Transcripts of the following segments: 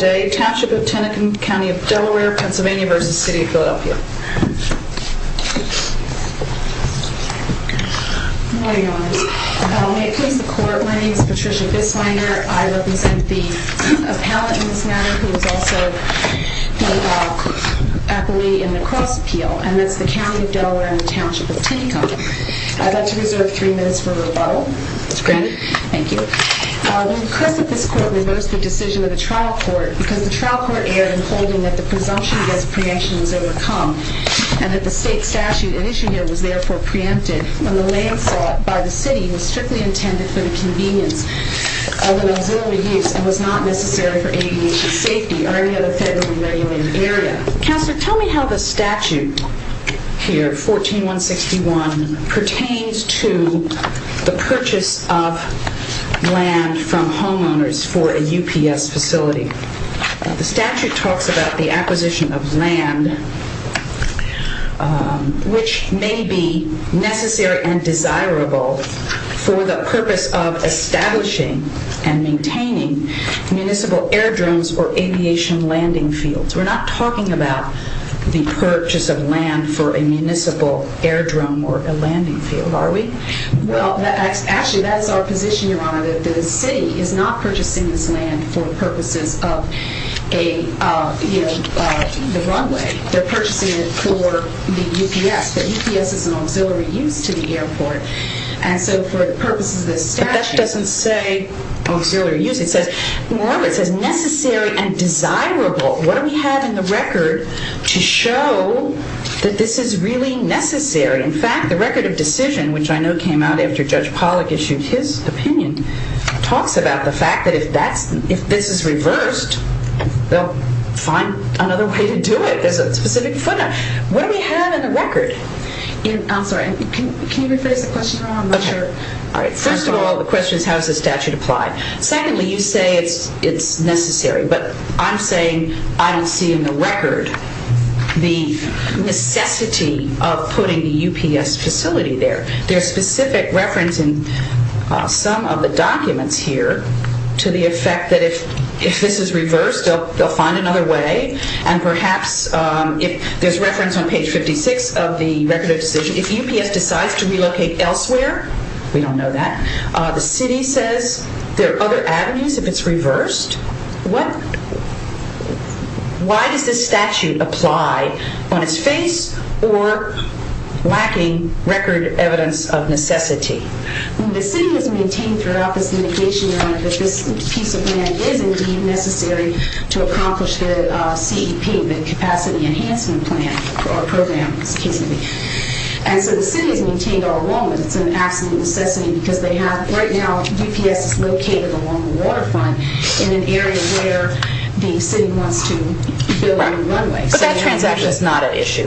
May it please the court, my name is Patricia Bisswanger. I represent the appellant in this matter who was also the appellee in the cross appeal, and that's the County of Delaware and the Township of Tinicum. I'd like to reserve three minutes for rebuttal. Ms. Grannon. Thank you. We request that this court reverse the decision of the trial court because the trial court erred in holding that the presumption against preemption was overcome and that the state statute in issue here was therefore preempted when the land sought by the city was strictly intended for the convenience of an auxiliary use and was not necessary for aviation safety or any other federally regulated area. Counselor, tell me how the statute here, 14161, pertains to the purchase of land from homeowners for a UPS facility. The statute talks about the acquisition of land which may be necessary and desirable for the purpose of establishing and maintaining municipal airdromes or aviation landing fields. We're not talking about the purchase of land for a municipal airdrome or a landing field, are we? Well, actually, that's our position, Your Honor, that the city is not purchasing this land for purposes of a, you know, the runway. They're purchasing it for the UPS. The UPS is an auxiliary use to the airport, and so for the purposes of this statute... ...necessary and desirable, what do we have in the record to show that this is really necessary? In fact, the record of decision, which I know came out after Judge Pollack issued his opinion, talks about the fact that if this is reversed, they'll find another way to do it. There's a specific footnote. What do we have in the record? I'm sorry. Can you rephrase the question, Your Honor? I'm not sure. All right. First of all, the question is how does the statute apply? Secondly, you say it's necessary, but I'm saying I don't see in the record the necessity of putting the UPS facility there. There's specific reference in some of the documents here to the effect that if this is reversed, they'll find another way, and perhaps if there's reference on page 56 of the record of decision, if UPS decides to relocate elsewhere, we don't know that. The city says there are other avenues if it's reversed. Why does this statute apply on its face or lacking record evidence of necessity? The city has maintained throughout this litigation, Your Honor, that this piece of land is indeed necessary to accomplish the CEP, the capacity enhancement plan or program, excuse me. And so the city has maintained our enrollment. It's an absolute necessity because they have, right now, UPS is located along the waterfront in an area where the city wants to build a new runway. But that transaction's not an issue.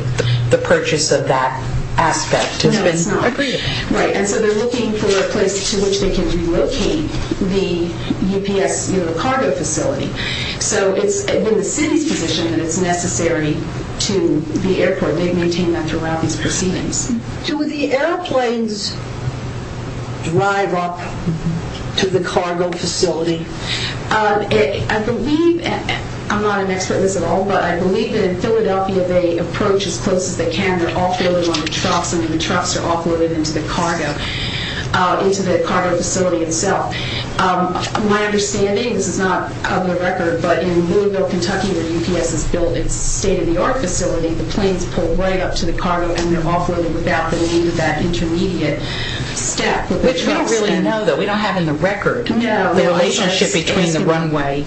The purchase of that aspect has been agreed upon. Right, and so they're looking for a place to which they can relocate the UPS cargo facility. So it's in the city's position that it's necessary to the airport. They've maintained that throughout these proceedings. Do the airplanes drive up to the cargo facility? I believe, I'm not an expert in this at all, but I believe that in Philadelphia they approach as close as they can. They're offloaded on the trucks and the trucks are offloaded into the cargo, into the cargo facility itself. My understanding, this is not on the record, but in Louisville, Kentucky, where UPS has built its state-of-the-art facility, the planes pull right up to the cargo and they're offloaded without the need of that intermediate step. Which we don't really know, though. We don't have in the record the relationship between the runway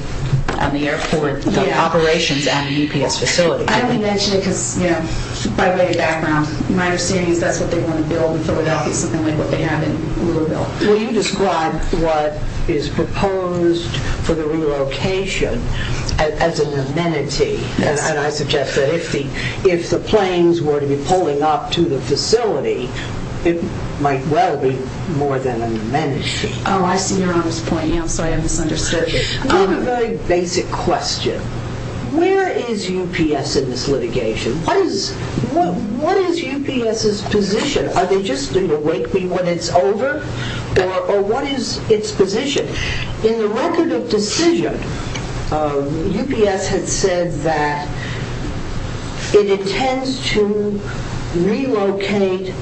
and the airport operations and the UPS facility. I only mention it by way of background. My understanding is that's what they want to build in Philadelphia, something like what they have in Louisville. Will you describe what is proposed for the relocation as an amenity, and I suggest that if the planes were to be pulling up to the facility, it might well be more than an amenity. Oh, I see you're on this point. I'm sorry, I misunderstood. I have a very basic question. Where is UPS in this litigation? What is UPS's position? Are they just going to wake me when it's over? Or what is its position? In the record of decision, UPS had said that it intends to relocate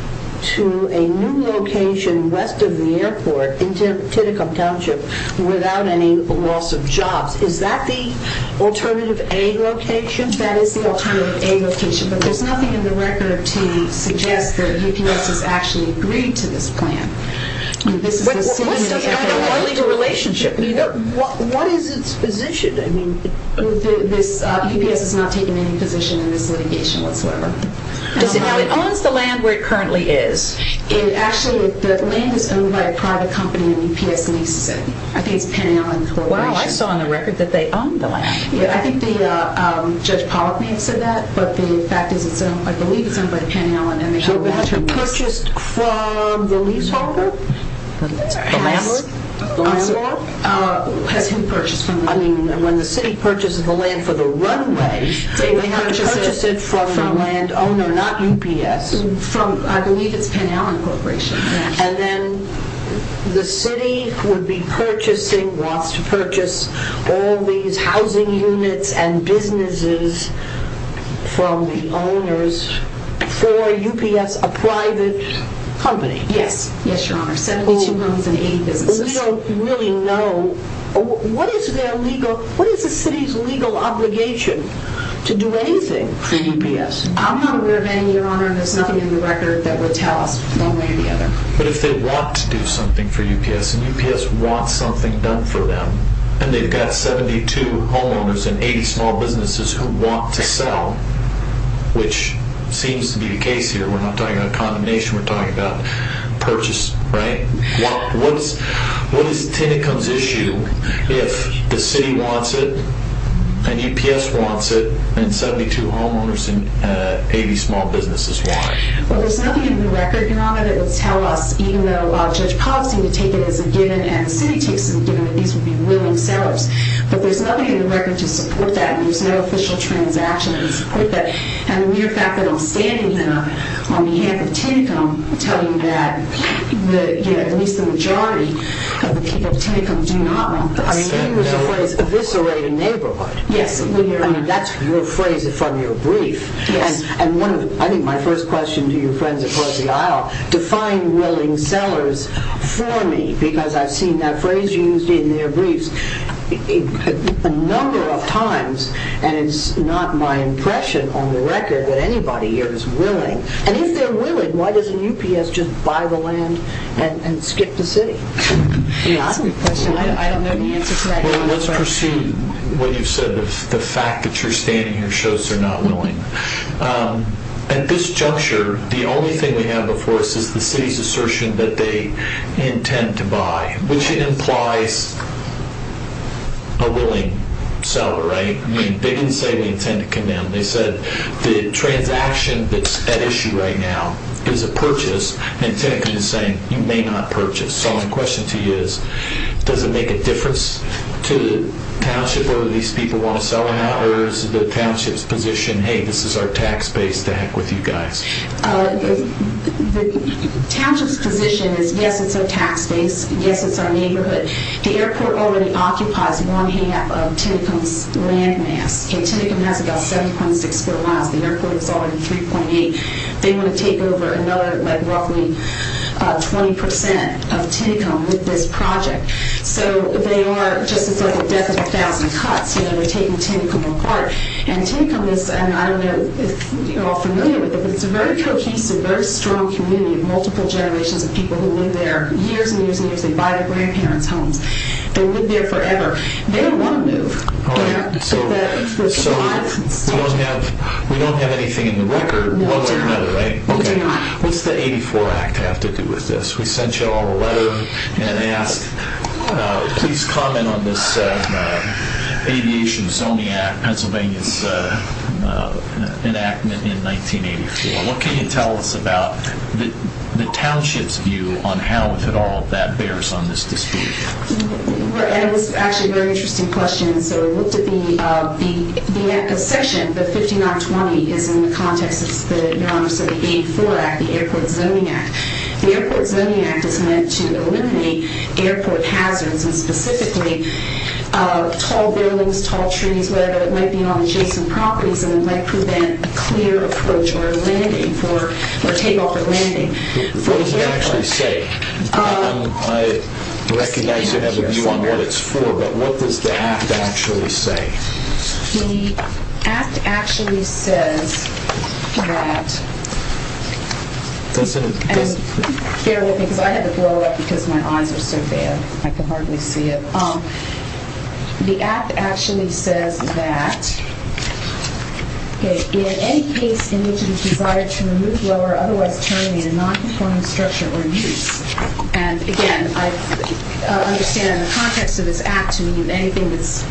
to a new location west of the airport in Titicum Township without any loss of jobs. Is that the alternative A location? That is the alternative A location, but there's nothing in the record to suggest that UPS has actually agreed to this plan. What is its position? UPS has not taken any position in this litigation whatsoever. Now, it owns the land where it currently is. Actually, the land is owned by a private company in the UPS leased city. I think it's Panty Island Corporation. Wow, I saw in the record that they own the land. I think Judge Pollack may have said that, but the fact is, I believe it's owned by Panty Island, and they have a long-term lease. So that's purchased from the leaseholder? The landlord? When the city purchases the land for the runway, they have to purchase it from the landowner, not UPS. I believe it's Panty Island Corporation. And then the city would be purchasing, wants to purchase, all these housing units and businesses from the owners for UPS, a private company? Yes, Your Honor, 72 homes and 80 businesses. We don't really know. What is the city's legal obligation to do anything for UPS? I'm not aware of any, Your Honor, and there's nothing in the record that would tell us one way or the other. But if they want to do something for UPS, and UPS wants something done for them, and they've got 72 homeowners and 80 small businesses who want to sell, which seems to be the case here, we're not talking about condemnation, we're talking about purchase, right? What is Tennecom's issue if the city wants it, and UPS wants it, and 72 homeowners and 80 small businesses want it? Well, there's nothing in the record, Your Honor, that would tell us, even though Judge Pollack seemed to take it as a given, and the city takes it as a given, that these would be willing sellers. But there's nothing in the record to support that, and there's no official transaction to support that. And the mere fact that I'm standing here on behalf of Tennecom, telling you that at least the majority of the people of Tennecom do not want this. I mean, there was a phrase, eviscerate a neighborhood. Yes, Your Honor. I mean, that's your phrase from your brief. Yes. I think my first question to your friends across the aisle, define willing sellers for me, because I've seen that phrase used in their briefs a number of times, and it's not my impression on the record that anybody here is willing. And if they're willing, why doesn't UPS just buy the land and skip the city? That's a good question. I don't know the answer to that. Your Honor, let's pursue what you've said. The fact that you're standing here shows they're not willing. At this juncture, the only thing we have before us is the city's assertion that they intend to buy, which implies a willing seller, right? I mean, they didn't say we intend to condemn. They said the transaction that's at issue right now is a purchase, and Tennecom is saying you may not purchase. So my question to you is, does it make a difference to the township whether these people want to sell or not, or is the township's position, hey, this is our tax base, to heck with you guys? The township's position is, yes, it's our tax base. Yes, it's our neighborhood. The airport already occupies one-half of Tennecom's land mass. Tennecom has about 7.6 square miles. The airport is already 3.8. They want to take over another, like, roughly 20% of Tennecom with this project. So they are just as like a death of a thousand cuts. You know, they're taking Tennecom apart. And Tennecom is, and I don't know if you're all familiar with it, but it's a very cohesive, very strong community of multiple generations of people who live there years and years and years. They buy their grandparents' homes. They live there forever. They don't want to move. All right. So we don't have anything in the record. One thing or another, right? Okay. What's the 84 Act have to do with this? We sent you all a letter and asked, please comment on this Aviation Zoning Act, Pennsylvania's enactment in 1984. What can you tell us about the township's view on how, if at all, that bears on this dispute? And it was actually a very interesting question. So we looked at the section, the 5920, is in the context of the 1984 Act, the Airport Zoning Act. The Airport Zoning Act is meant to eliminate airport hazards and specifically tall buildings, tall trees, whatever. It might be on adjacent properties and it might prevent a clear approach or landing for, or takeoff or landing. What does it actually say? I recognize you have a view on what it's for, but what does the Act actually say? The Act actually says that, and bear with me because I had to blow up because my eyes are so bad. I can hardly see it. The Act actually says that in any case in which it is desired to remove, lower, or otherwise turn in a nonconforming structure or use. And, again, I understand in the context of this Act to mean anything that's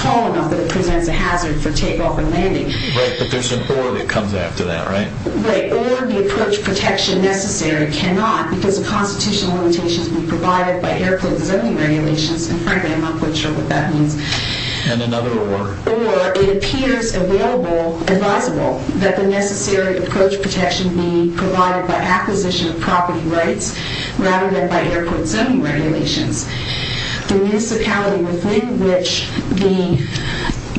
tall enough that it presents a hazard for takeoff and landing. Right, but there's a board that comes after that, right? Right. Or the approach protection necessary cannot, because of constitutional limitations, be provided by airport zoning regulations. And, frankly, I'm not quite sure what that means. And another award. Or it appears available, advisable, that the necessary approach protection be provided by acquisition of property rights rather than by airport zoning regulations. The municipality within which the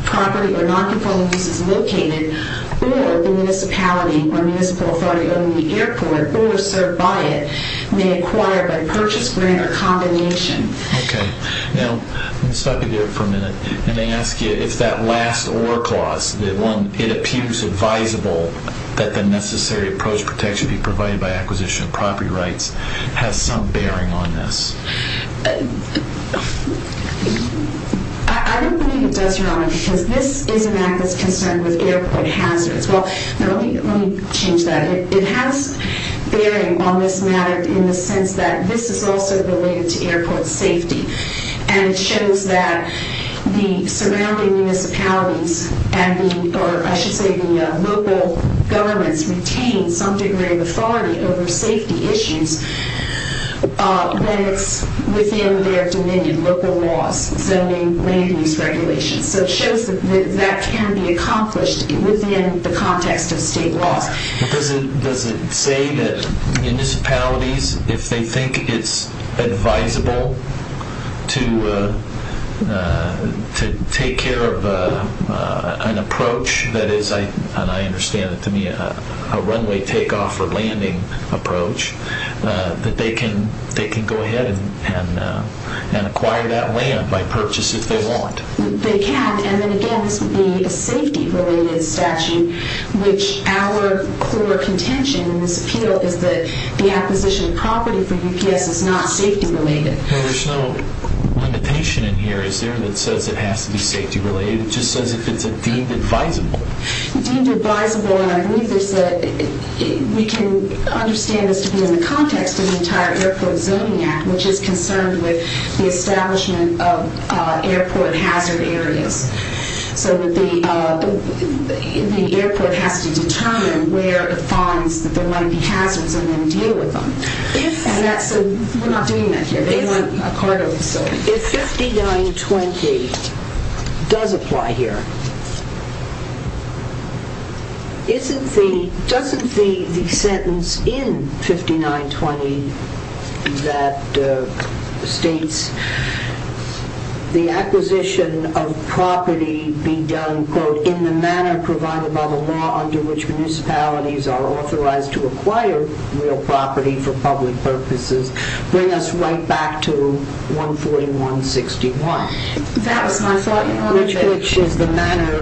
property or nonconforming use is located or the municipality or municipal authority owning the airport or served by it may acquire by purchase, grant, or combination. Okay. Now, let me stop you there for a minute. Let me ask you if that last or clause, the one, it appears advisable that the necessary approach protection be provided by acquisition of property rights has some bearing on this. I don't believe it does, Robin, because this is an Act that's concerned with airport hazards. Well, let me change that. It has bearing on this matter in the sense that this is also related to airport safety. And it shows that the surrounding municipalities and the, or I should say the local governments retain some degree of authority over safety issues when it's within their dominion, local laws, zoning, land use regulations. So it shows that that can be accomplished within the context of state laws. Does it say that municipalities, if they think it's advisable to take care of an approach that is, and I understand it to be a runway takeoff or landing approach, that they can go ahead and acquire that land by purchase if they want? They can. And then again, this would be a safety related statute, which our core contention in this appeal is that the acquisition of property for UPS is not safety related. There's no limitation in here, is there, that says it has to be safety related? It just says it's deemed advisable. Deemed advisable, and I believe there's a, we can understand this to be in the context of the entire Airport Zoning Act, which is concerned with the establishment of airport hazard areas. So the airport has to determine where it finds that there might be hazards and then deal with them. And that's, we're not doing that here. They want a cargo facility. If 5920 does apply here, isn't the, doesn't the sentence in 5920 that states the acquisition of property be done, quote, in the manner provided by the law under which municipalities are authorized to acquire real property for public purposes, bring us right back to 141-61. That was my thought, Your Honor. Which is the manner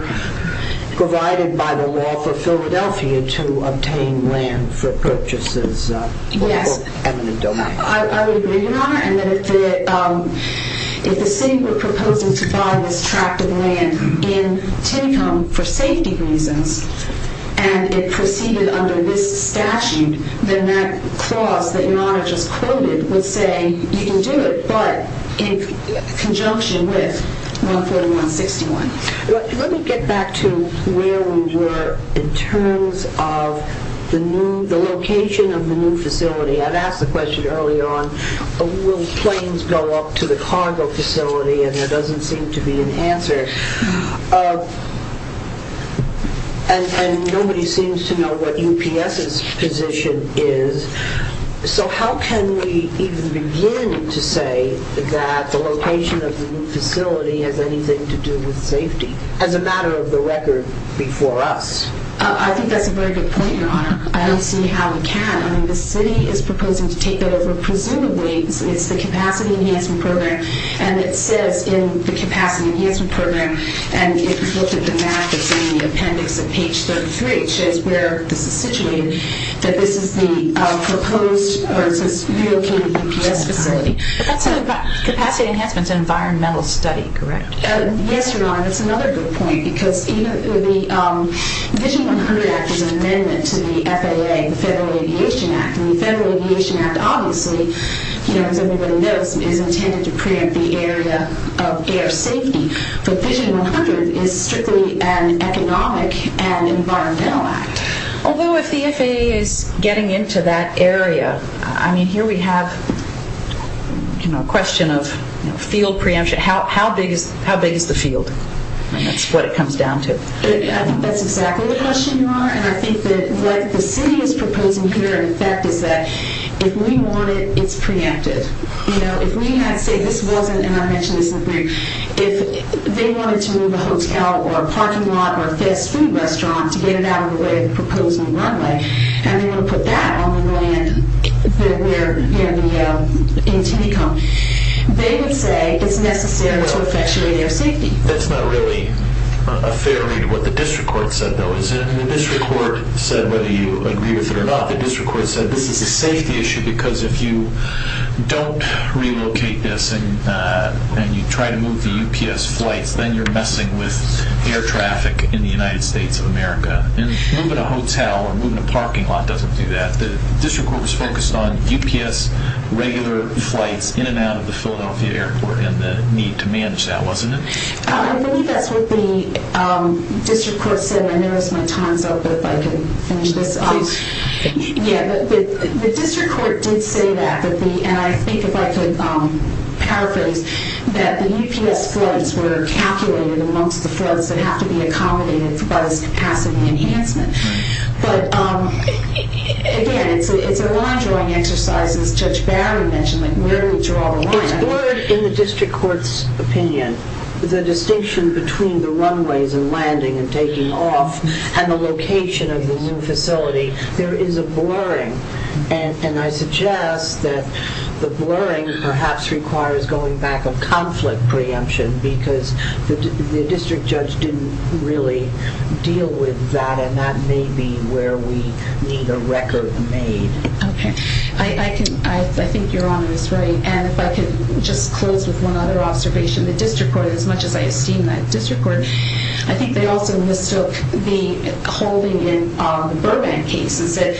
provided by the law for Philadelphia to obtain land for purchases. Yes. Eminent domain. I would agree, Your Honor, and that if the city were proposing to buy this tract of land in Tinicum for safety reasons, and it proceeded under this statute, then that clause that Your Honor just quoted would say you can do it, but in conjunction with 141-61. Let me get back to where we were in terms of the new, the location of the new facility. I'd asked the question earlier on, will planes go up to the cargo facility, and there doesn't seem to be an answer. And nobody seems to know what UPS's position is, so how can we even begin to say that the location of the new facility has anything to do with safety as a matter of the record before us? I think that's a very good point, Your Honor. I don't see how we can. I mean, the city is proposing to take that over. Presumably, it's the capacity enhancement program, and it says in the capacity enhancement program, and if you look at the map, it's in the appendix at page 33, which is where this is situated, that this is the proposed or relocated UPS facility. But that's a capacity enhancement environmental study, correct? Yes, Your Honor. That's another good point, because the Vision 100 Act is an amendment to the FAA, the Federal Aviation Act. And the Federal Aviation Act, obviously, as everybody knows, is intended to preempt the area of air safety. But Vision 100 is strictly an economic and environmental act. Although, if the FAA is getting into that area, I mean, here we have a question of field preemption. How big is the field? And that's what it comes down to. I think that's exactly the question, Your Honor. And I think that what the city is proposing here, in effect, is that if we want it, it's preempted. If we had to say this wasn't, and I mentioned this in the brief, if they wanted to move a hotel or a parking lot or a fast food restaurant to get it out of the way of the proposed new runway, and they want to put that on the land that we're, you know, in Teecom, they would say it's necessary to effectuate air safety. That's not really a fair read of what the district court said, though, is it? And the district court said, whether you agree with it or not, the district court said this is a safety issue because if you don't relocate this and you try to move the UPS flights, then you're messing with air traffic in the United States of America. And moving a hotel or moving a parking lot doesn't do that. The district court was focused on UPS regular flights in and out of the Philadelphia airport and the need to manage that, wasn't it? I believe that's what the district court said. I noticed my time's up, but if I could finish this up. Please. Yeah, the district court did say that, and I think if I could paraphrase, that the UPS flights were calculated amongst the flights that have to be accommodated by this capacity enhancement. But, again, it's a line-drawing exercise, as Judge Barry mentioned, like where do we draw the line? It's blurred in the district court's opinion. The distinction between the runways and landing and taking off and the location of the new facility, there is a blurring. And I suggest that the blurring perhaps requires going back a conflict preemption because the district judge didn't really deal with that, and that may be where we need a record made. Okay. I think Your Honor is right, and if I could just close with one other observation. The district court, as much as I esteem that district court, I think they also mistook the holding in Burbank case and said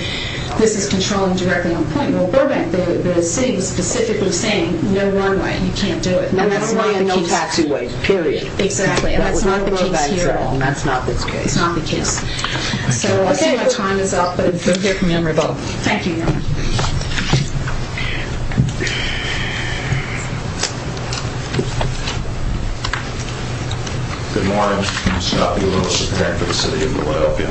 this is controlling directly on point. Well, Burbank, the city was specifically saying no runway. You can't do it. And that's not the case. No taxiway, period. Exactly, and that's not the case here. That's not the case. It's not the case. So I see my time is up. Thank you, Your Honor. Good morning. Scott B. Lewis, a parent for the city of Philadelphia.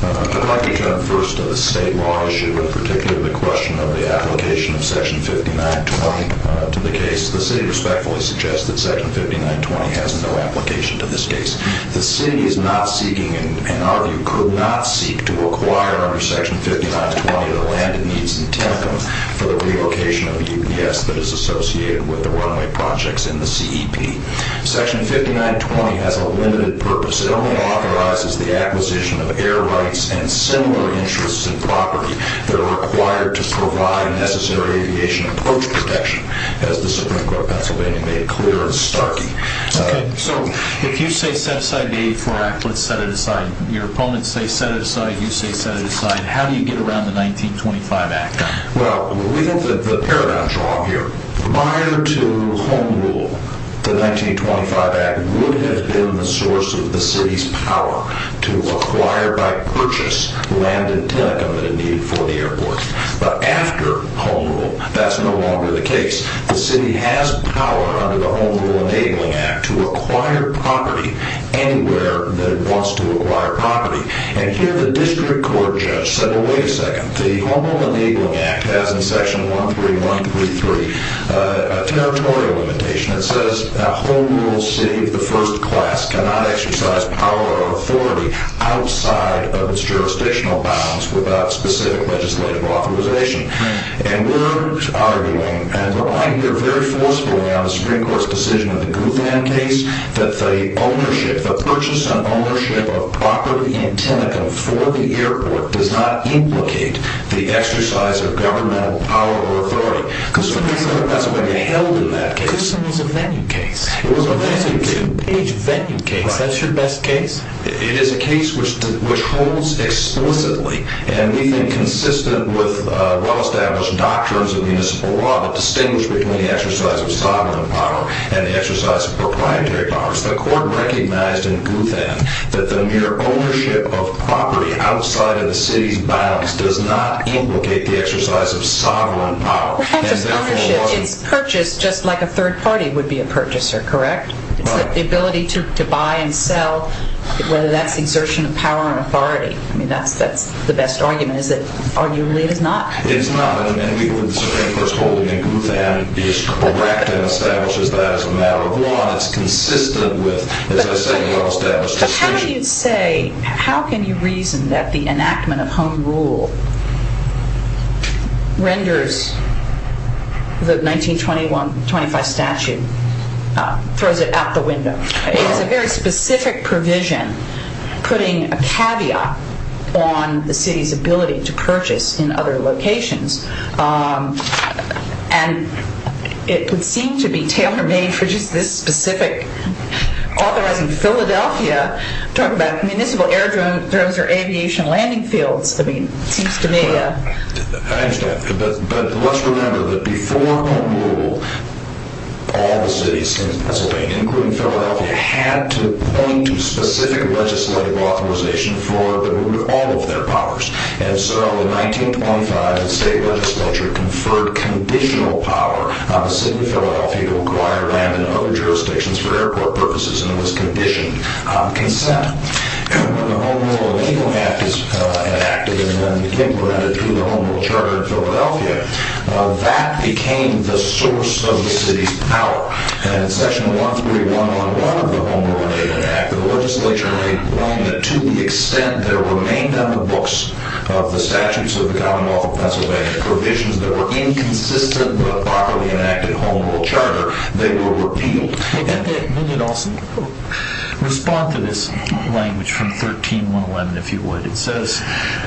I'd like to turn first to the state law issue and particularly the question of the application of section 5920 to the case. The city respectfully suggests that section 5920 has no application to this case. The city is not seeking and, in our view, could not seek to acquire under section 5920 the land it needs in Tampa for the relocation of UPS that is associated with the runway projects in the CEP. Section 5920 has a limited purpose. It only authorizes the acquisition of air rights and similar interests and property that are required to provide necessary aviation approach protection, as the Supreme Court of Pennsylvania made clear in Starkey. Okay. So if you say set-aside the 84 Act, let's set it aside. Your opponents say set it aside. You say set it aside. How do you get around the 1925 Act? Well, we have the paramount draw here. Prior to Home Rule, the 1925 Act would have been the source of the city's power to acquire by purchase land in Tennaco that it needed for the airport. But after Home Rule, that's no longer the case. The city has power under the Home Rule Enabling Act to acquire property anywhere that it wants to acquire property. And here the district court judge said, oh, wait a second. The Home Rule Enabling Act has in section 13133 a territorial limitation. It says a Home Rule city of the first class cannot exercise power or authority outside of its jurisdictional bounds without specific legislative authorization. And we're arguing, and we're arguing here very forcibly on the Supreme Court's decision in the Gutham case, that the ownership, the purchase and ownership of property in Tennaco for the airport does not implicate the exercise of governmental power or authority. That's what they held in that case. It was a venue case. It was a venue case. It was a two-page venue case. That's your best case? It is a case which holds explicitly and we think consistent with well-established doctrines of municipal law that distinguish between the exercise of sovereign power and the exercise of proprietary powers. The court recognized in Gutham that the mere ownership of property outside of the city's bounds does not implicate the exercise of sovereign power. It's purchased just like a third party would be a purchaser, correct? It's the ability to buy and sell, whether that's exertion of power or authority. I mean, that's the best argument, is that arguably it is not. It is not. And we believe the Supreme Court's holding in Gutham is correct and establishes that as a matter of law and it's consistent with, as I say, well-established decisions. What do you say, how can you reason that the enactment of home rule renders the 1921-25 statute, throws it out the window? It was a very specific provision putting a caveat on the city's ability to purchase in other locations and it would seem to be tailor-made for just this specific authorizing Philadelphia. Talk about municipal air drones or aviation landing fields. I mean, it seems to me. I understand, but let's remember that before home rule, all the cities in Pennsylvania, including Philadelphia, had to point to specific legislative authorization for the removal of all of their powers. And so in 1925, the state legislature conferred conditional power on the city of Philadelphia to acquire land in other jurisdictions for airport purposes and it was conditioned consent. And when the home rule legal act is enacted and then became granted through the home rule charter in Philadelphia, that became the source of the city's power. And in section 13111 of the Home Rule Enactment Act, to the extent there remained on the books of the statutes of the Commonwealth of Pennsylvania provisions that were inconsistent with a properly enacted home rule charter, they were repealed. Let me also respond to this language from 13111 if you would. It says,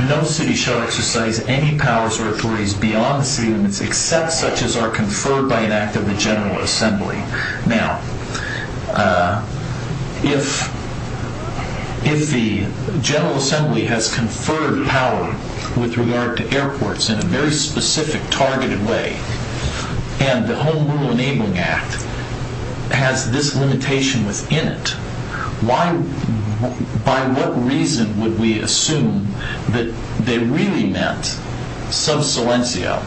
no city shall exercise any powers or authorities beyond the city limits except such as are conferred by an act of the General Assembly. Now, if the General Assembly has conferred power with regard to airports in a very specific targeted way and the Home Rule Enabling Act has this limitation within it, by what reason would we assume that they really meant sub silencio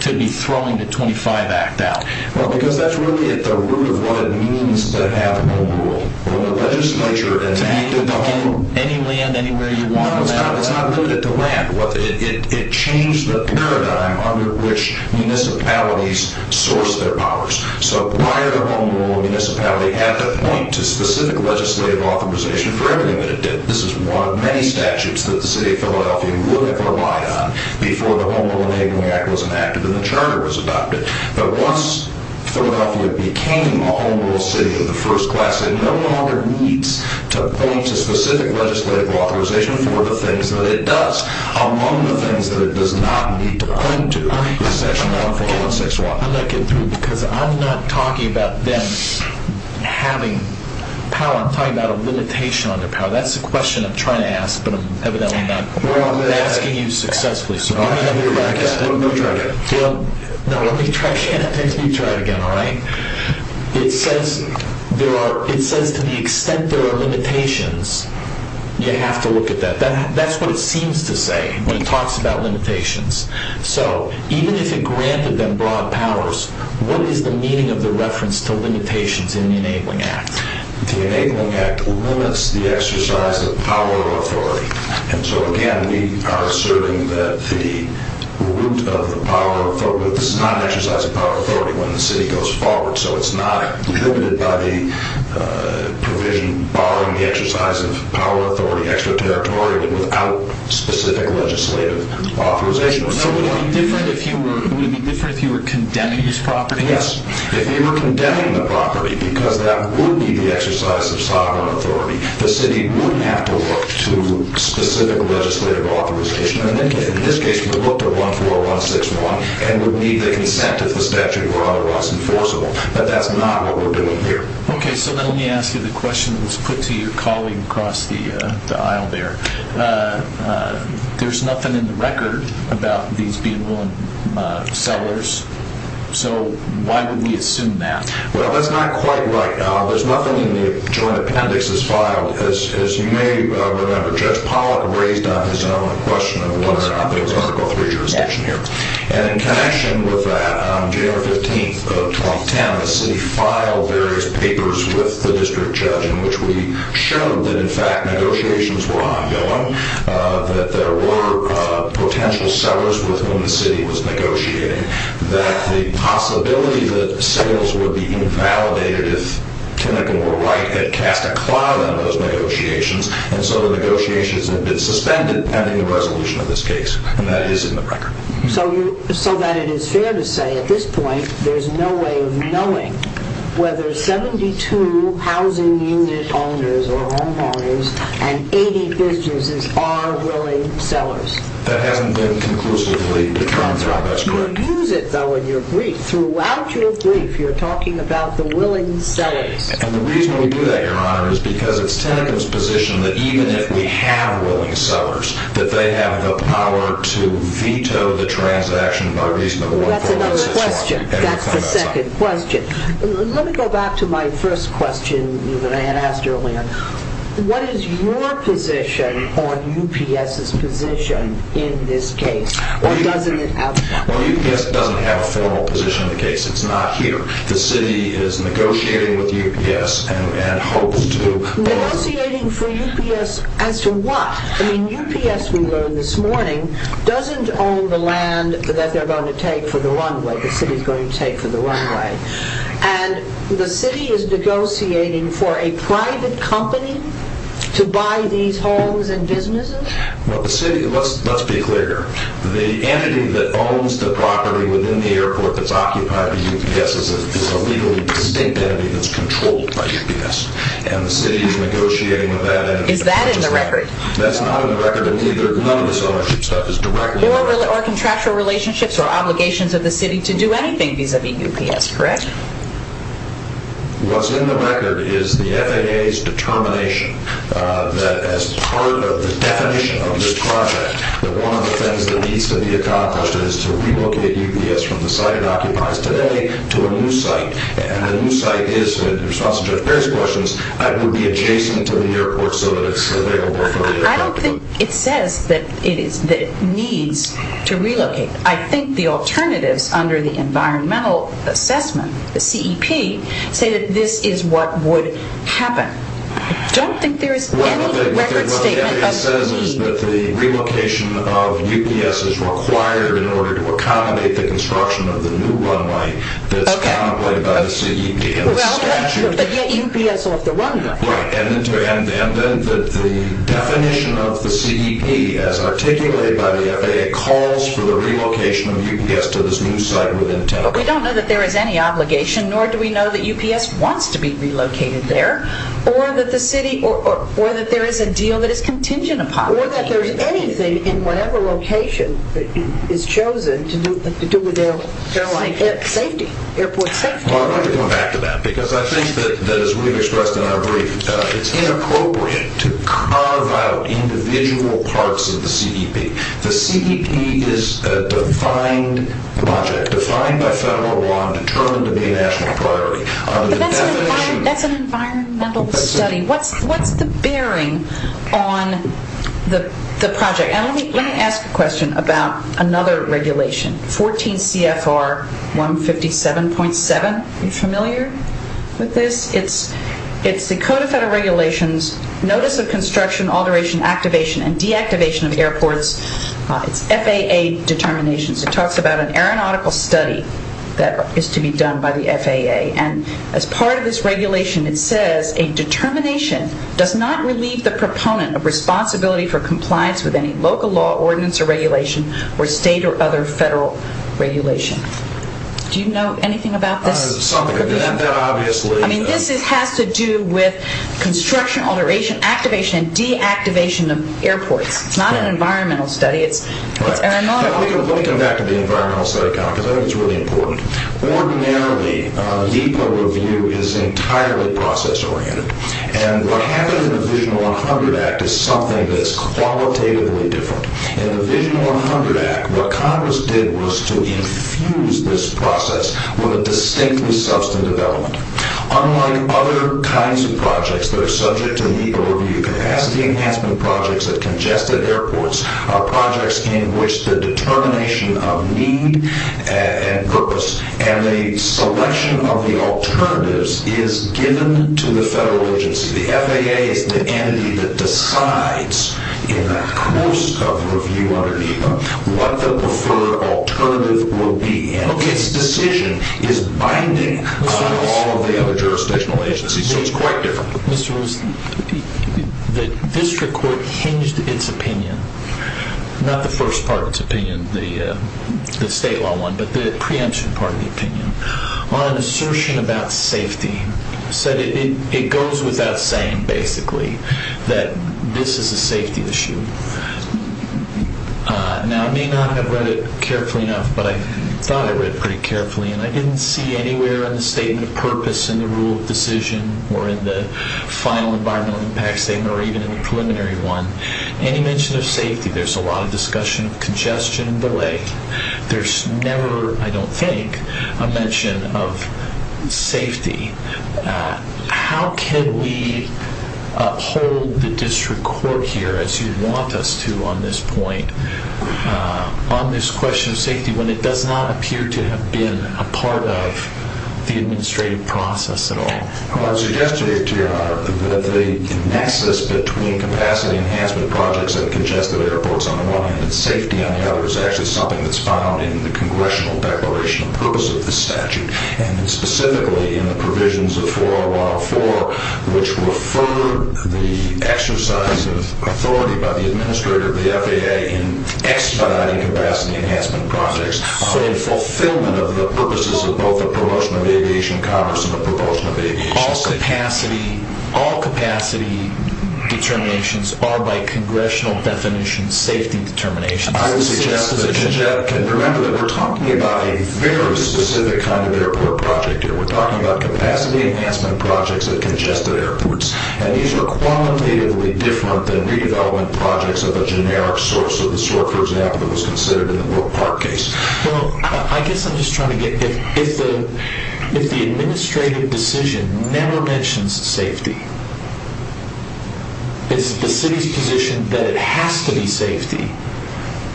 to be throwing the 25 Act out? Well, because that's really at the root of what it means to have a home rule. When the legislature enacted the home rule... To gain any land anywhere you want? No, it's not limited to land. It changed the paradigm under which municipalities sourced their powers. So prior to home rule, a municipality had to point to specific legislative authorization for everything that it did. This is one of many statutes that the city of Philadelphia would have relied on before the Home Rule Enabling Act was enacted and the charter was adopted. But once Philadelphia became a home rule city of the first class, it no longer needs to point to specific legislative authorization for the things that it does. Among the things that it does not need to point to is Section 1416Y. I'm not getting through because I'm not talking about them having power. I'm talking about a limitation on their power. That's the question I'm trying to ask, but I'm evidently not asking you successfully. Let me try it again. No, let me try it again and then you try it again, all right? It says to the extent there are limitations, you have to look at that. That's what it seems to say when it talks about limitations. So even if it granted them broad powers, what is the meaning of the reference to limitations in the Enabling Act? The Enabling Act limits the exercise of power or authority. And so, again, we are asserting that the root of the power or authority, this is not an exercise of power or authority when the city goes forward, so it's not prohibited by the provision barring the exercise of power or authority, extraterritorial, without specific legislative authorization. Would it be different if you were condemning this property? Yes, if you were condemning the property, because that would be the exercise of sovereign authority, the city wouldn't have to look to specific legislative authorization. In this case, we looked at 14161 and would need the consent of the statute or otherwise enforceable, but that's not what we're doing here. Okay, so let me ask you the question that was put to your colleague across the aisle there. There's nothing in the record about these being willing sellers, so why would we assume that? Well, that's not quite right. There's nothing in the joint appendix that's filed. As you may remember, Judge Pollack raised on his own a question of whether or not there was Article III jurisdiction here. And in connection with that, January 15th of 2010, the city filed various papers with the district judge in which we showed that, in fact, negotiations were ongoing, that there were potential sellers with whom the city was negotiating, that the possibility that sales would be invalidated if Kinnican or Wright had cast a cloud on those negotiations, and so the negotiations had been suspended pending the resolution of this case, and that is in the record. So that it is fair to say, at this point, there's no way of knowing whether 72 housing unit owners or homeowners and 80 businesses are willing sellers. That hasn't been conclusively determined through our best grip. You use it, though, in your brief. Throughout your brief, you're talking about the willing sellers. And the reason we do that, Your Honor, is because it's Tennant's position that even if we have willing sellers, that they have the power to veto the transaction by reason of what the law says. Well, that's another question. That's the second question. Let me go back to my first question that I had asked earlier. What is your position on UPS's position in this case? Well, UPS doesn't have a formal position in the case. It's not here. The city is negotiating with UPS and hopes to... Negotiating for UPS as to what? I mean, UPS, we learned this morning, doesn't own the land that they're going to take for the runway, the city's going to take for the runway. And the city is negotiating for a private company to buy these homes and businesses? Well, let's be clear. The entity that owns the property within the airport that's occupied by UPS is a legally distinct entity that's controlled by UPS. And the city is negotiating with that entity. Is that in the record? That's not in the record. And none of this ownership stuff is directly... Or contractual relationships or obligations of the city to do anything vis-à-vis UPS, correct? What's in the record is the FAA's determination that as part of the definition of this project, that one of the things that needs to be accomplished is to relocate UPS from the site it occupies today to a new site. And the new site is, in response to Judge Perry's questions, would be adjacent to the airport so that it's available for the airport to move. I don't think it says that it needs to relocate. I think the alternatives under the environmental assessment, the CEP, say that this is what would happen. I don't think there is any record statement of the... Well, what the FAA says is that the relocation of UPS is required in order to accommodate the construction of the new runway that's contemplated by the CEP and the statute. But yet UPS will have the runway. And then the definition of the CEP as articulated by the FAA calls for the relocation of UPS to this new site within 10 o'clock. But we don't know that there is any obligation, nor do we know that UPS wants to be relocated there, or that there is a deal that is contingent upon it. Or that there is anything in whatever location is chosen to do with airline safety, airport safety. Well, I'd like to come back to that because I think that, as we've expressed in our brief, it's inappropriate to carve out individual parts of the CEP. The CEP is a defined project, defined by federal law and determined to be a national priority. But that's an environmental study. What's the bearing on the project? Let me ask a question about another regulation, 14 CFR 157.7. Are you familiar with this? It's the Code of Federal Regulations, Notice of Construction, Alteration, Activation, and Deactivation of Airports. It's FAA determinations. It talks about an aeronautical study that is to be done by the FAA. As part of this regulation, it says, a determination does not relieve the proponent of responsibility for compliance with any local law, ordinance, or regulation, or state or other federal regulation. Do you know anything about this? This has to do with construction, alteration, activation, and deactivation of airports. It's not an environmental study, it's aeronautical. Let me come back to the environmental study because I think it's really important. Ordinarily, NEPA review is entirely process-oriented. And what happened in the Vision 100 Act is something that's qualitatively different. In the Vision 100 Act, what Congress did was to infuse this process with a distinctly substantive element. Unlike other kinds of projects that are subject to NEPA review, capacity enhancement projects at congested airports are projects in which the determination of need and purpose and the selection of the alternatives is given to the federal agency. The FAA is the entity that decides, in the course of review under NEPA, what the preferred alternative will be. And its decision is binding on all of the other jurisdictional agencies. So it's quite different. Mr. Wilson, the district court hinged its opinion, not the first part of its opinion, the state law one, but the preemption part of the opinion, on an assertion about safety. It said it goes without saying, basically, that this is a safety issue. Now, I may not have read it carefully enough, but I thought I read it pretty carefully, and I didn't see anywhere in the statement of purpose in the rule of decision or in the final environmental impact statement or even in the preliminary one any mention of safety. There's a lot of discussion of congestion and delay. There's never, I don't think, a mention of safety. How can we uphold the district court here, as you want us to on this point, on this question of safety, when it does not appear to have been a part of the administrative process at all? Well, I would suggest to you, Your Honor, that the nexus between capacity enhancement projects and congested airports, on the one hand, and safety, on the other, is actually something that's found in the congressional declaration of purpose of this statute and specifically in the provisions of 404, which referred the exercise of authority by the administrator of the FAA in expediting capacity enhancement projects on the fulfillment of the purposes of both the promotion of aviation commerce and the promotion of aviation safety. All capacity determinations are, by congressional definition, safety determinations. I would suggest that you remember that we're talking about a very specific kind of airport project here. We're talking about capacity enhancement projects at congested airports, and these are qualitatively different than redevelopment projects of a generic sort, so the sort, for example, that was considered in the World Park case. Well, I guess I'm just trying to get, if the administrative decision never mentions safety, is the city's position that it has to be safety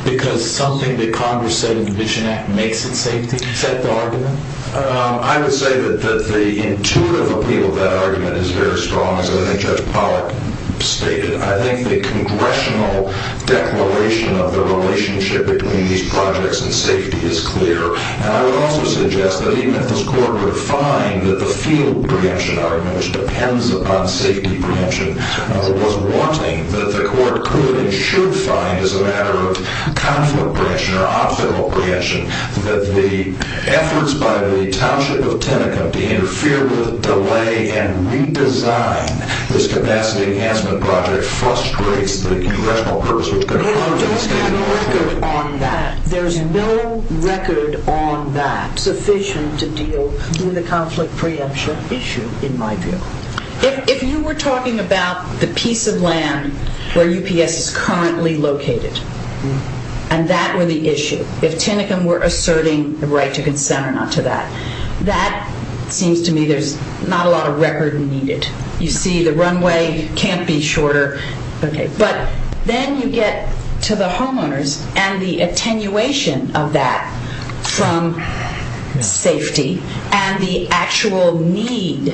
because something that Congress said in the Vision Act makes it safety? Is that the argument? I would say that the intuitive appeal of that argument is very strong, as I think Judge Pollack stated. I think the congressional declaration of the relationship between these projects and safety is clear, and I would also suggest that even if this Court would find that the field preemption argument, which depends upon safety preemption, was wanting, that the Court could and should find as a matter of conflict preemption or optional preemption that the efforts by the township of Tinicum to interfere with, delay, and redesign this capacity enhancement project frustrates the congressional purpose which concludes in the State of North Carolina. There's no record on that, there's no record on that sufficient to deal with a conflict preemption issue, in my view. If you were talking about the piece of land where UPS is currently located, and that were the issue, if Tinicum were asserting the right to consent or not to that, that seems to me there's not a lot of record needed. You see the runway can't be shorter. But then you get to the homeowners and the attenuation of that from safety and the actual need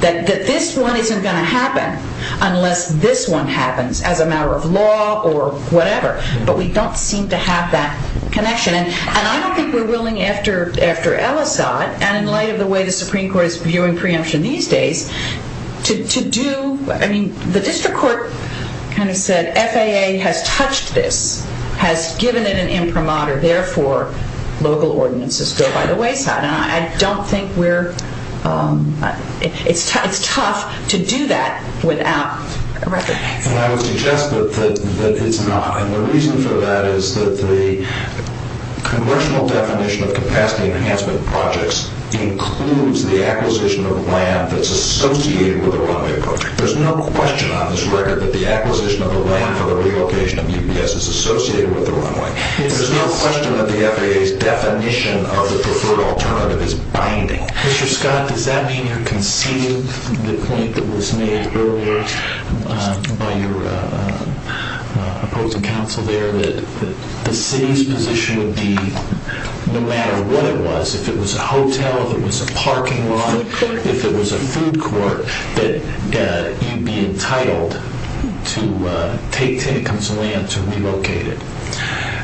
that this one isn't going to happen unless this one happens as a matter of law or whatever. But we don't seem to have that connection. And I don't think we're willing after Ellisot, and in light of the way the Supreme Court is viewing preemption these days, to do, I mean, the district court kind of said FAA has touched this, has given it an imprimatur, therefore local ordinances go by the wayside. And I don't think we're, it's tough to do that without a record. And I would suggest that it's not. And the reason for that is that the congressional definition of capacity enhancement projects includes the acquisition of land that's associated with a runway project. There's no question on this record that the acquisition of the land for the relocation of UPS is associated with the runway. There's no question that the FAA's definition of the preferred alternative is binding. Mr. Scott, does that mean you're conceding the point that was made earlier by your opposing counsel there, that the city's position would be no matter what it was, if it was a hotel, if it was a parking lot, if it was a food court, that you'd be entitled to take Tenekum's land to relocate it?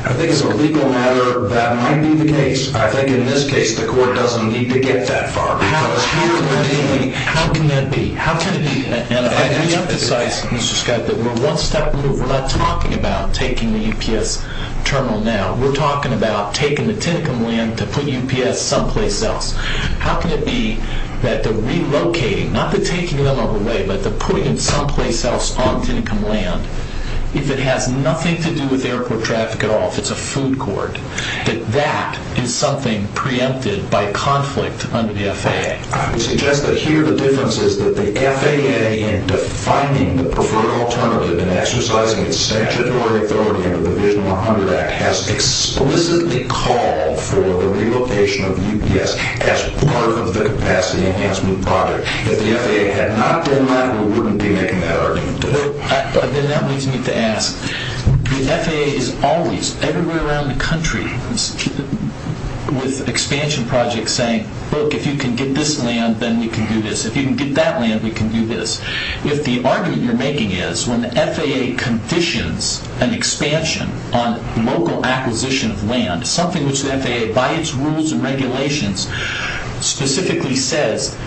I think as a legal matter that might be the case. I think in this case the court doesn't need to get that far. How can that be? How can it be? And let me emphasize, Mr. Scott, that we're one step removed. We're not talking about taking the UPS terminal now. We're talking about taking the Tenekum land to put UPS someplace else. How can it be that the relocating, not the taking them away, but the putting them someplace else on Tenekum land, if it has nothing to do with airport traffic at all, if it's a food court, that that is something preempted by conflict under the FAA? I would suggest that here the difference is that the FAA, in defining the preferred alternative and exercising its statutory authority under the Vision 100 Act, has explicitly called for the relocation of UPS as part of the capacity enhancement project. If the FAA had not done that, we wouldn't be making that argument today. Then that leaves me to ask, the FAA is always, everywhere around the country, with expansion projects saying, look, if you can get this land, then we can do this. If you can get that land, we can do this. If the argument you're making is when the FAA conditions an expansion on local acquisition of land, something which the FAA, by its rules and regulations, specifically says,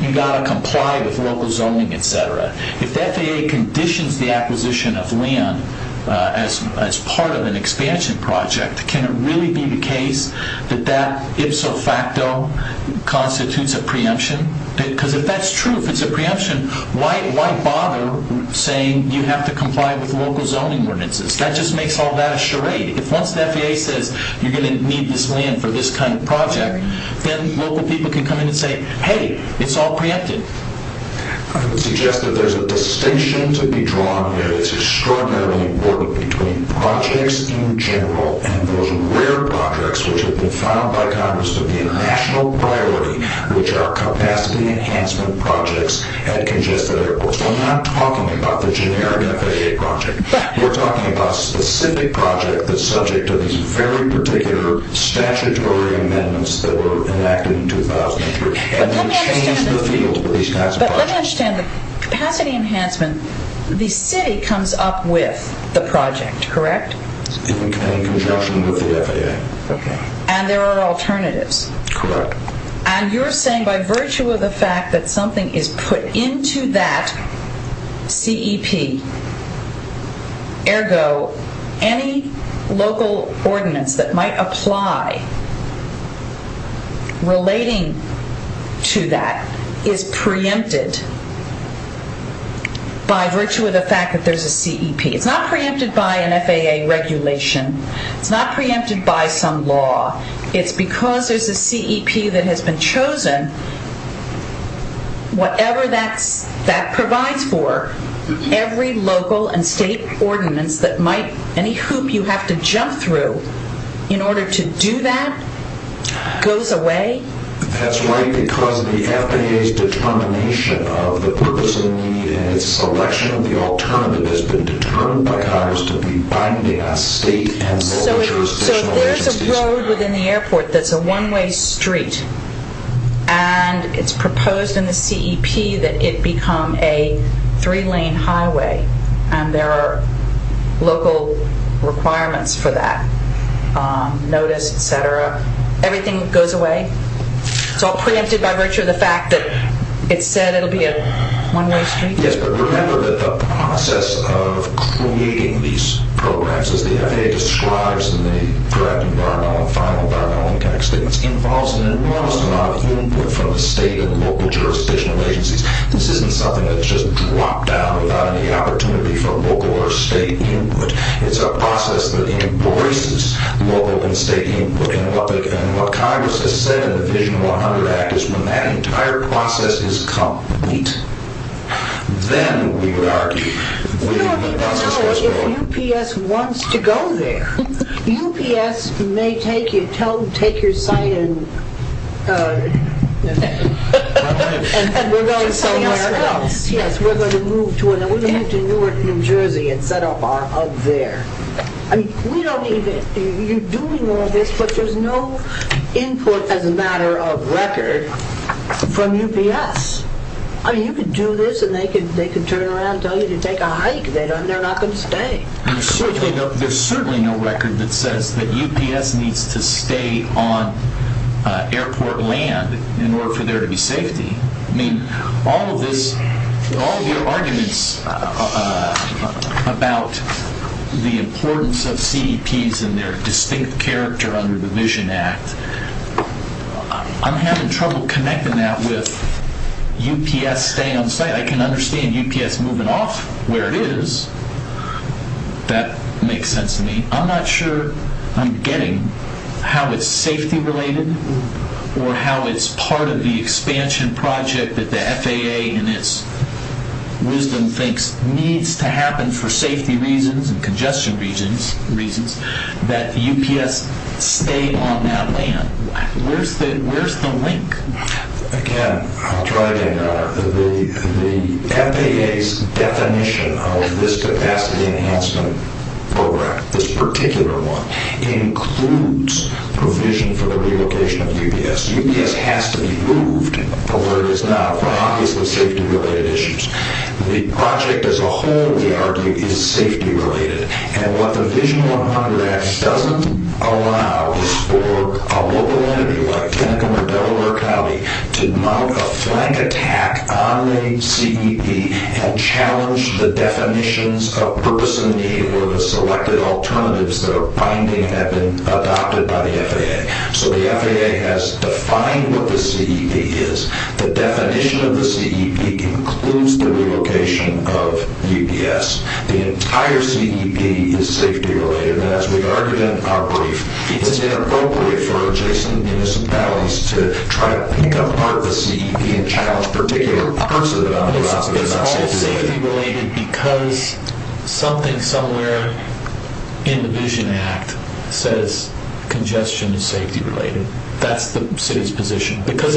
you've got to comply with local zoning, et cetera. If the FAA conditions the acquisition of land as part of an expansion project, can it really be the case that that ipso facto constitutes a preemption? Because if that's true, if it's a preemption, why bother saying you have to comply with local zoning ordinances? That just makes all that a charade. If once the FAA says you're going to need this land for this kind of project, then local people can come in and say, hey, it's all preempted. I would suggest that there's a distinction to be drawn here that's extraordinarily important between projects in general and those rare projects which have been found by Congress to be a national priority, which are capacity enhancement projects at congested airports. We're not talking about the generic FAA project. We're talking about a specific project that's subject to these very particular statutory amendments that were enacted in 2003. But let me understand the capacity enhancement. The city comes up with the project, correct? In conjunction with the FAA. And there are alternatives. Correct. And you're saying by virtue of the fact that something is put into that CEP, ergo, any local ordinance that might apply relating to that is preempted by virtue of the fact that there's a CEP. It's not preempted by an FAA regulation. It's not preempted by some law. It's because there's a CEP that has been chosen, whatever that provides for, every local and state ordinance that might, any hoop you have to jump through in order to do that goes away? That's right, because the FAA's determination of the purpose of the need and its selection of the alternative has been determined by Congress to be binding on state and local jurisdictions. So if there's a road within the airport that's a one-way street and it's proposed in the CEP that it become a three-lane highway and there are local requirements for that, notice, et cetera, everything goes away? It's all preempted by virtue of the fact that it's said it'll be a one-way street? Yes, but remember that the process of creating these programs, as the FAA describes in the correct environmental and final environmental and economic statements, involves an enormous amount of input from the state and local jurisdictional agencies. This isn't something that's just dropped down without any opportunity from local or state input. It's a process that embraces local and state input, and what Congress has said in the Vision 100 Act is when that entire process is complete, then we would argue we don't even know if UPS wants to go there. UPS may take your site and we're going somewhere else. Yes, we're going to move to Newark, New Jersey and set up our hub there. I mean, we don't even, you're doing all this, but there's no input as a matter of record from UPS. I mean, you could do this and they could turn around and tell you to take a hike. They're not going to stay. There's certainly no record that says that UPS needs to stay on airport land in order for there to be safety. I mean, all of your arguments about the importance of CDPs and their distinct character under the Vision Act, I'm having trouble connecting that with UPS staying on site. I can understand UPS moving off where it is. That makes sense to me. I'm not sure I'm getting how it's safety-related or how it's part of the expansion project that the FAA in its wisdom thinks needs to happen for safety reasons and congestion reasons that UPS stay on that land. Where's the link? Again, I'll try again, Your Honor. The FAA's definition of this capacity enhancement program, this particular one, includes provision for the relocation of UPS. UPS has to be moved where it is now for obviously safety-related issues. The project as a whole, we argue, is safety-related. And what the Vision 100 Act doesn't allow is for a local entity like Kennecum or Delaware County to mount a flank attack on a CEP and challenge the definitions of purpose and need or the selected alternatives that are binding that have been adopted by the FAA. So the FAA has defined what the CEP is. The definition of the CEP includes the relocation of UPS. The entire CEP is safety-related. And as we argued in our brief, it's inappropriate for adjacent municipalities to try to pick apart the CEP and challenge a particular person on the grounds that they're not safety-related. It's all safety-related because something somewhere in the Vision Act says congestion is safety-related. That's the city's position. Because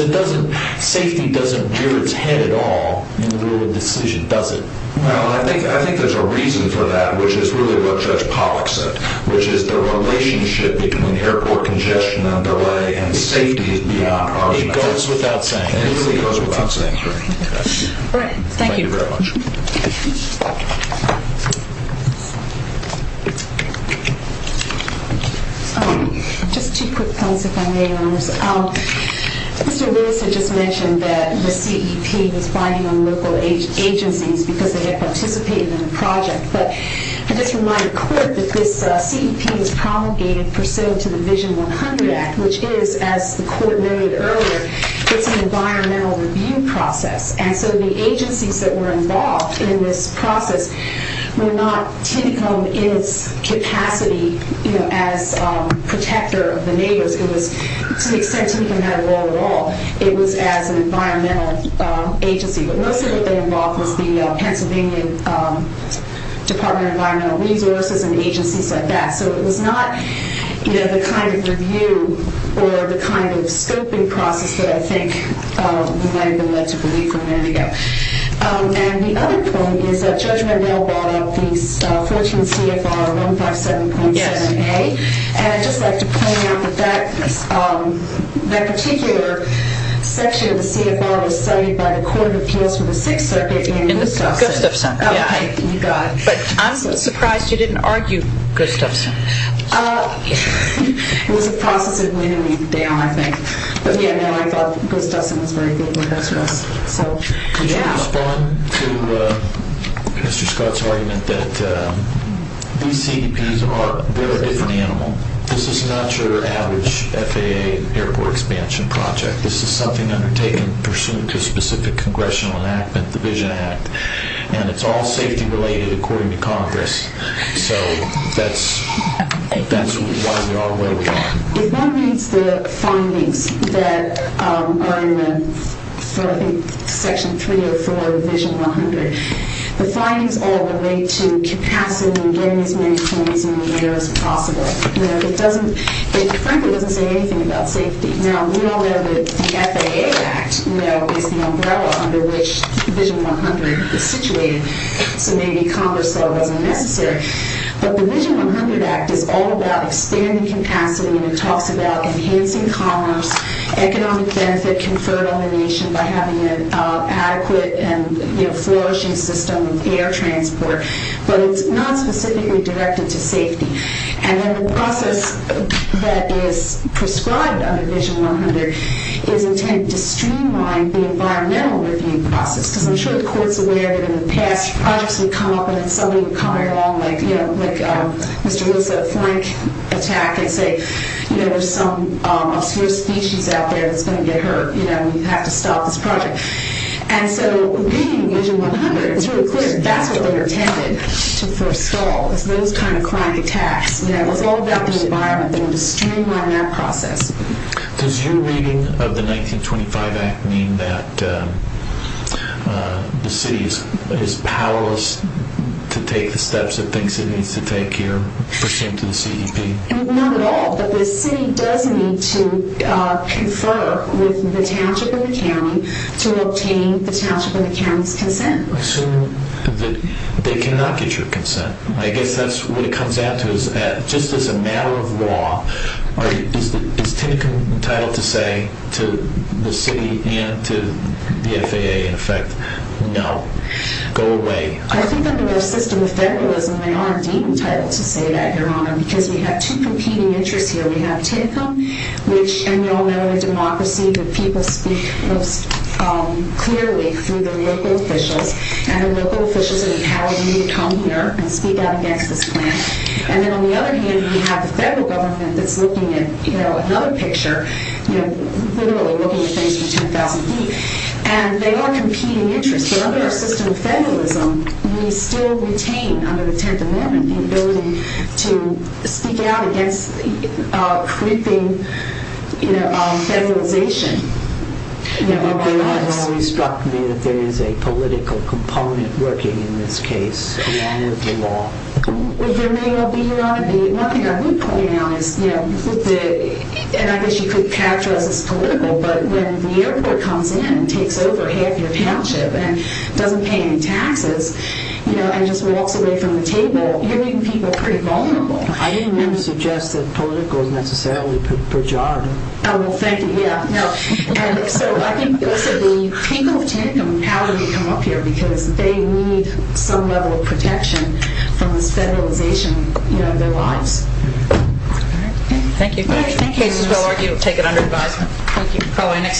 safety doesn't rear its head at all in the rule of decision, does it? Well, I think there's a reason for that, which is really what Judge Pollack said, which is the relationship between airport congestion and delay and safety is beyond our control. It goes without saying. It really goes without saying. All right, thank you. Thank you very much. Just two quick comments if I may, Your Honors. Mr. Wilson just mentioned that the CEP was binding on local agencies because they had participated in the project. But I just remind the Court that this CEP was promulgated pursuant to the Vision 100 Act, which is, as the Court noted earlier, it's an environmental review process. And so the agencies that were involved in this process were not, typically in its capacity, you know, as protector of the neighbors. To the extent Tinicum had a role at all, it was as an environmental agency. But mostly what they involved was the Pennsylvania Department of Environmental Resources and agencies like that. So it was not, you know, the kind of review or the kind of scoping process that I think we might have been led to believe a minute ago. And the other point is that Judge Mandel brought up the 14 CFR 157.7A. And I'd just like to point out that that particular section of the CFR was cited by the Court of Appeals for the Sixth Circuit in the Gustafson. Okay, you got it. But I'm surprised you didn't argue Gustafson. It was a process that went a week down, I think. But, yeah, no, I thought Gustafson was very good with us. Could you respond to Mr. Scott's argument that these CEPs are a very different animal? This is not your average FAA airport expansion project. This is something undertaken pursuant to specific congressional enactment, the Vision Act. And it's all safety-related according to Congress. So that's why we are where we are. If one reads the findings that are in Section 304 of Vision 100, the findings all relate to capacity and getting as many planes in the air as possible. It frankly doesn't say anything about safety. Now, we all know that the FAA Act is the umbrella under which Vision 100 is situated. So maybe Congress thought it wasn't necessary. But the Vision 100 Act is all about expanding capacity, and it talks about enhancing commerce, economic benefit conferred on the nation by having an adequate and flourishing system of air transport. But it's not specifically directed to safety. And then the process that is prescribed under Vision 100 is intended to streamline the environmental review process. Because I'm sure the court's aware that in the past, projects would come up and then somebody would come along, like Mr. Wilson at Flank, attack and say, you know, there's some obscure species out there that's going to get hurt. You know, we have to stop this project. And so reading Vision 100, it's really clear that that's what they intended for a stall, those kind of crime attacks. It's all about the environment. They're going to streamline that process. Does your reading of the 1925 Act mean that the city is powerless to take the steps it thinks it needs to take here, the same to the CEP? Not at all. But the city does need to confer with the township and the county to obtain the township and the county's consent. So they cannot get your consent. I guess that's what it comes down to, is that just as a matter of law, is Tinicum entitled to say to the city and to the FAA, in effect, no, go away. I think under our system of federalism, they are indeed entitled to say that, Your Honor, because we have two competing interests here. We have Tinicum, which, and you all know in a democracy, the people speak most clearly through their local officials. And the local officials have empowered me to come here and speak out against this plan. And then on the other hand, we have the federal government that's looking at another picture, literally looking at things from 10,000 feet. And they are competing interests. But under our system of federalism, we still retain, under the Tenth Amendment, It has always struck me that there is a political component working in this case, in light of the law. Your Honor, one thing I would point out is, and I guess you could characterize this as political, but when the airport comes in and takes over half your township and doesn't pay any taxes, and just walks away from the table, you're making people pretty vulnerable. I didn't mean to suggest that political is necessarily pejorative. Oh, well, thank you. So I think also the people of Tinicum, how did they come up here? Because they need some level of protection from this federalization in their lives. Thank you. In cases where I argue, take it under advisement. Thank you.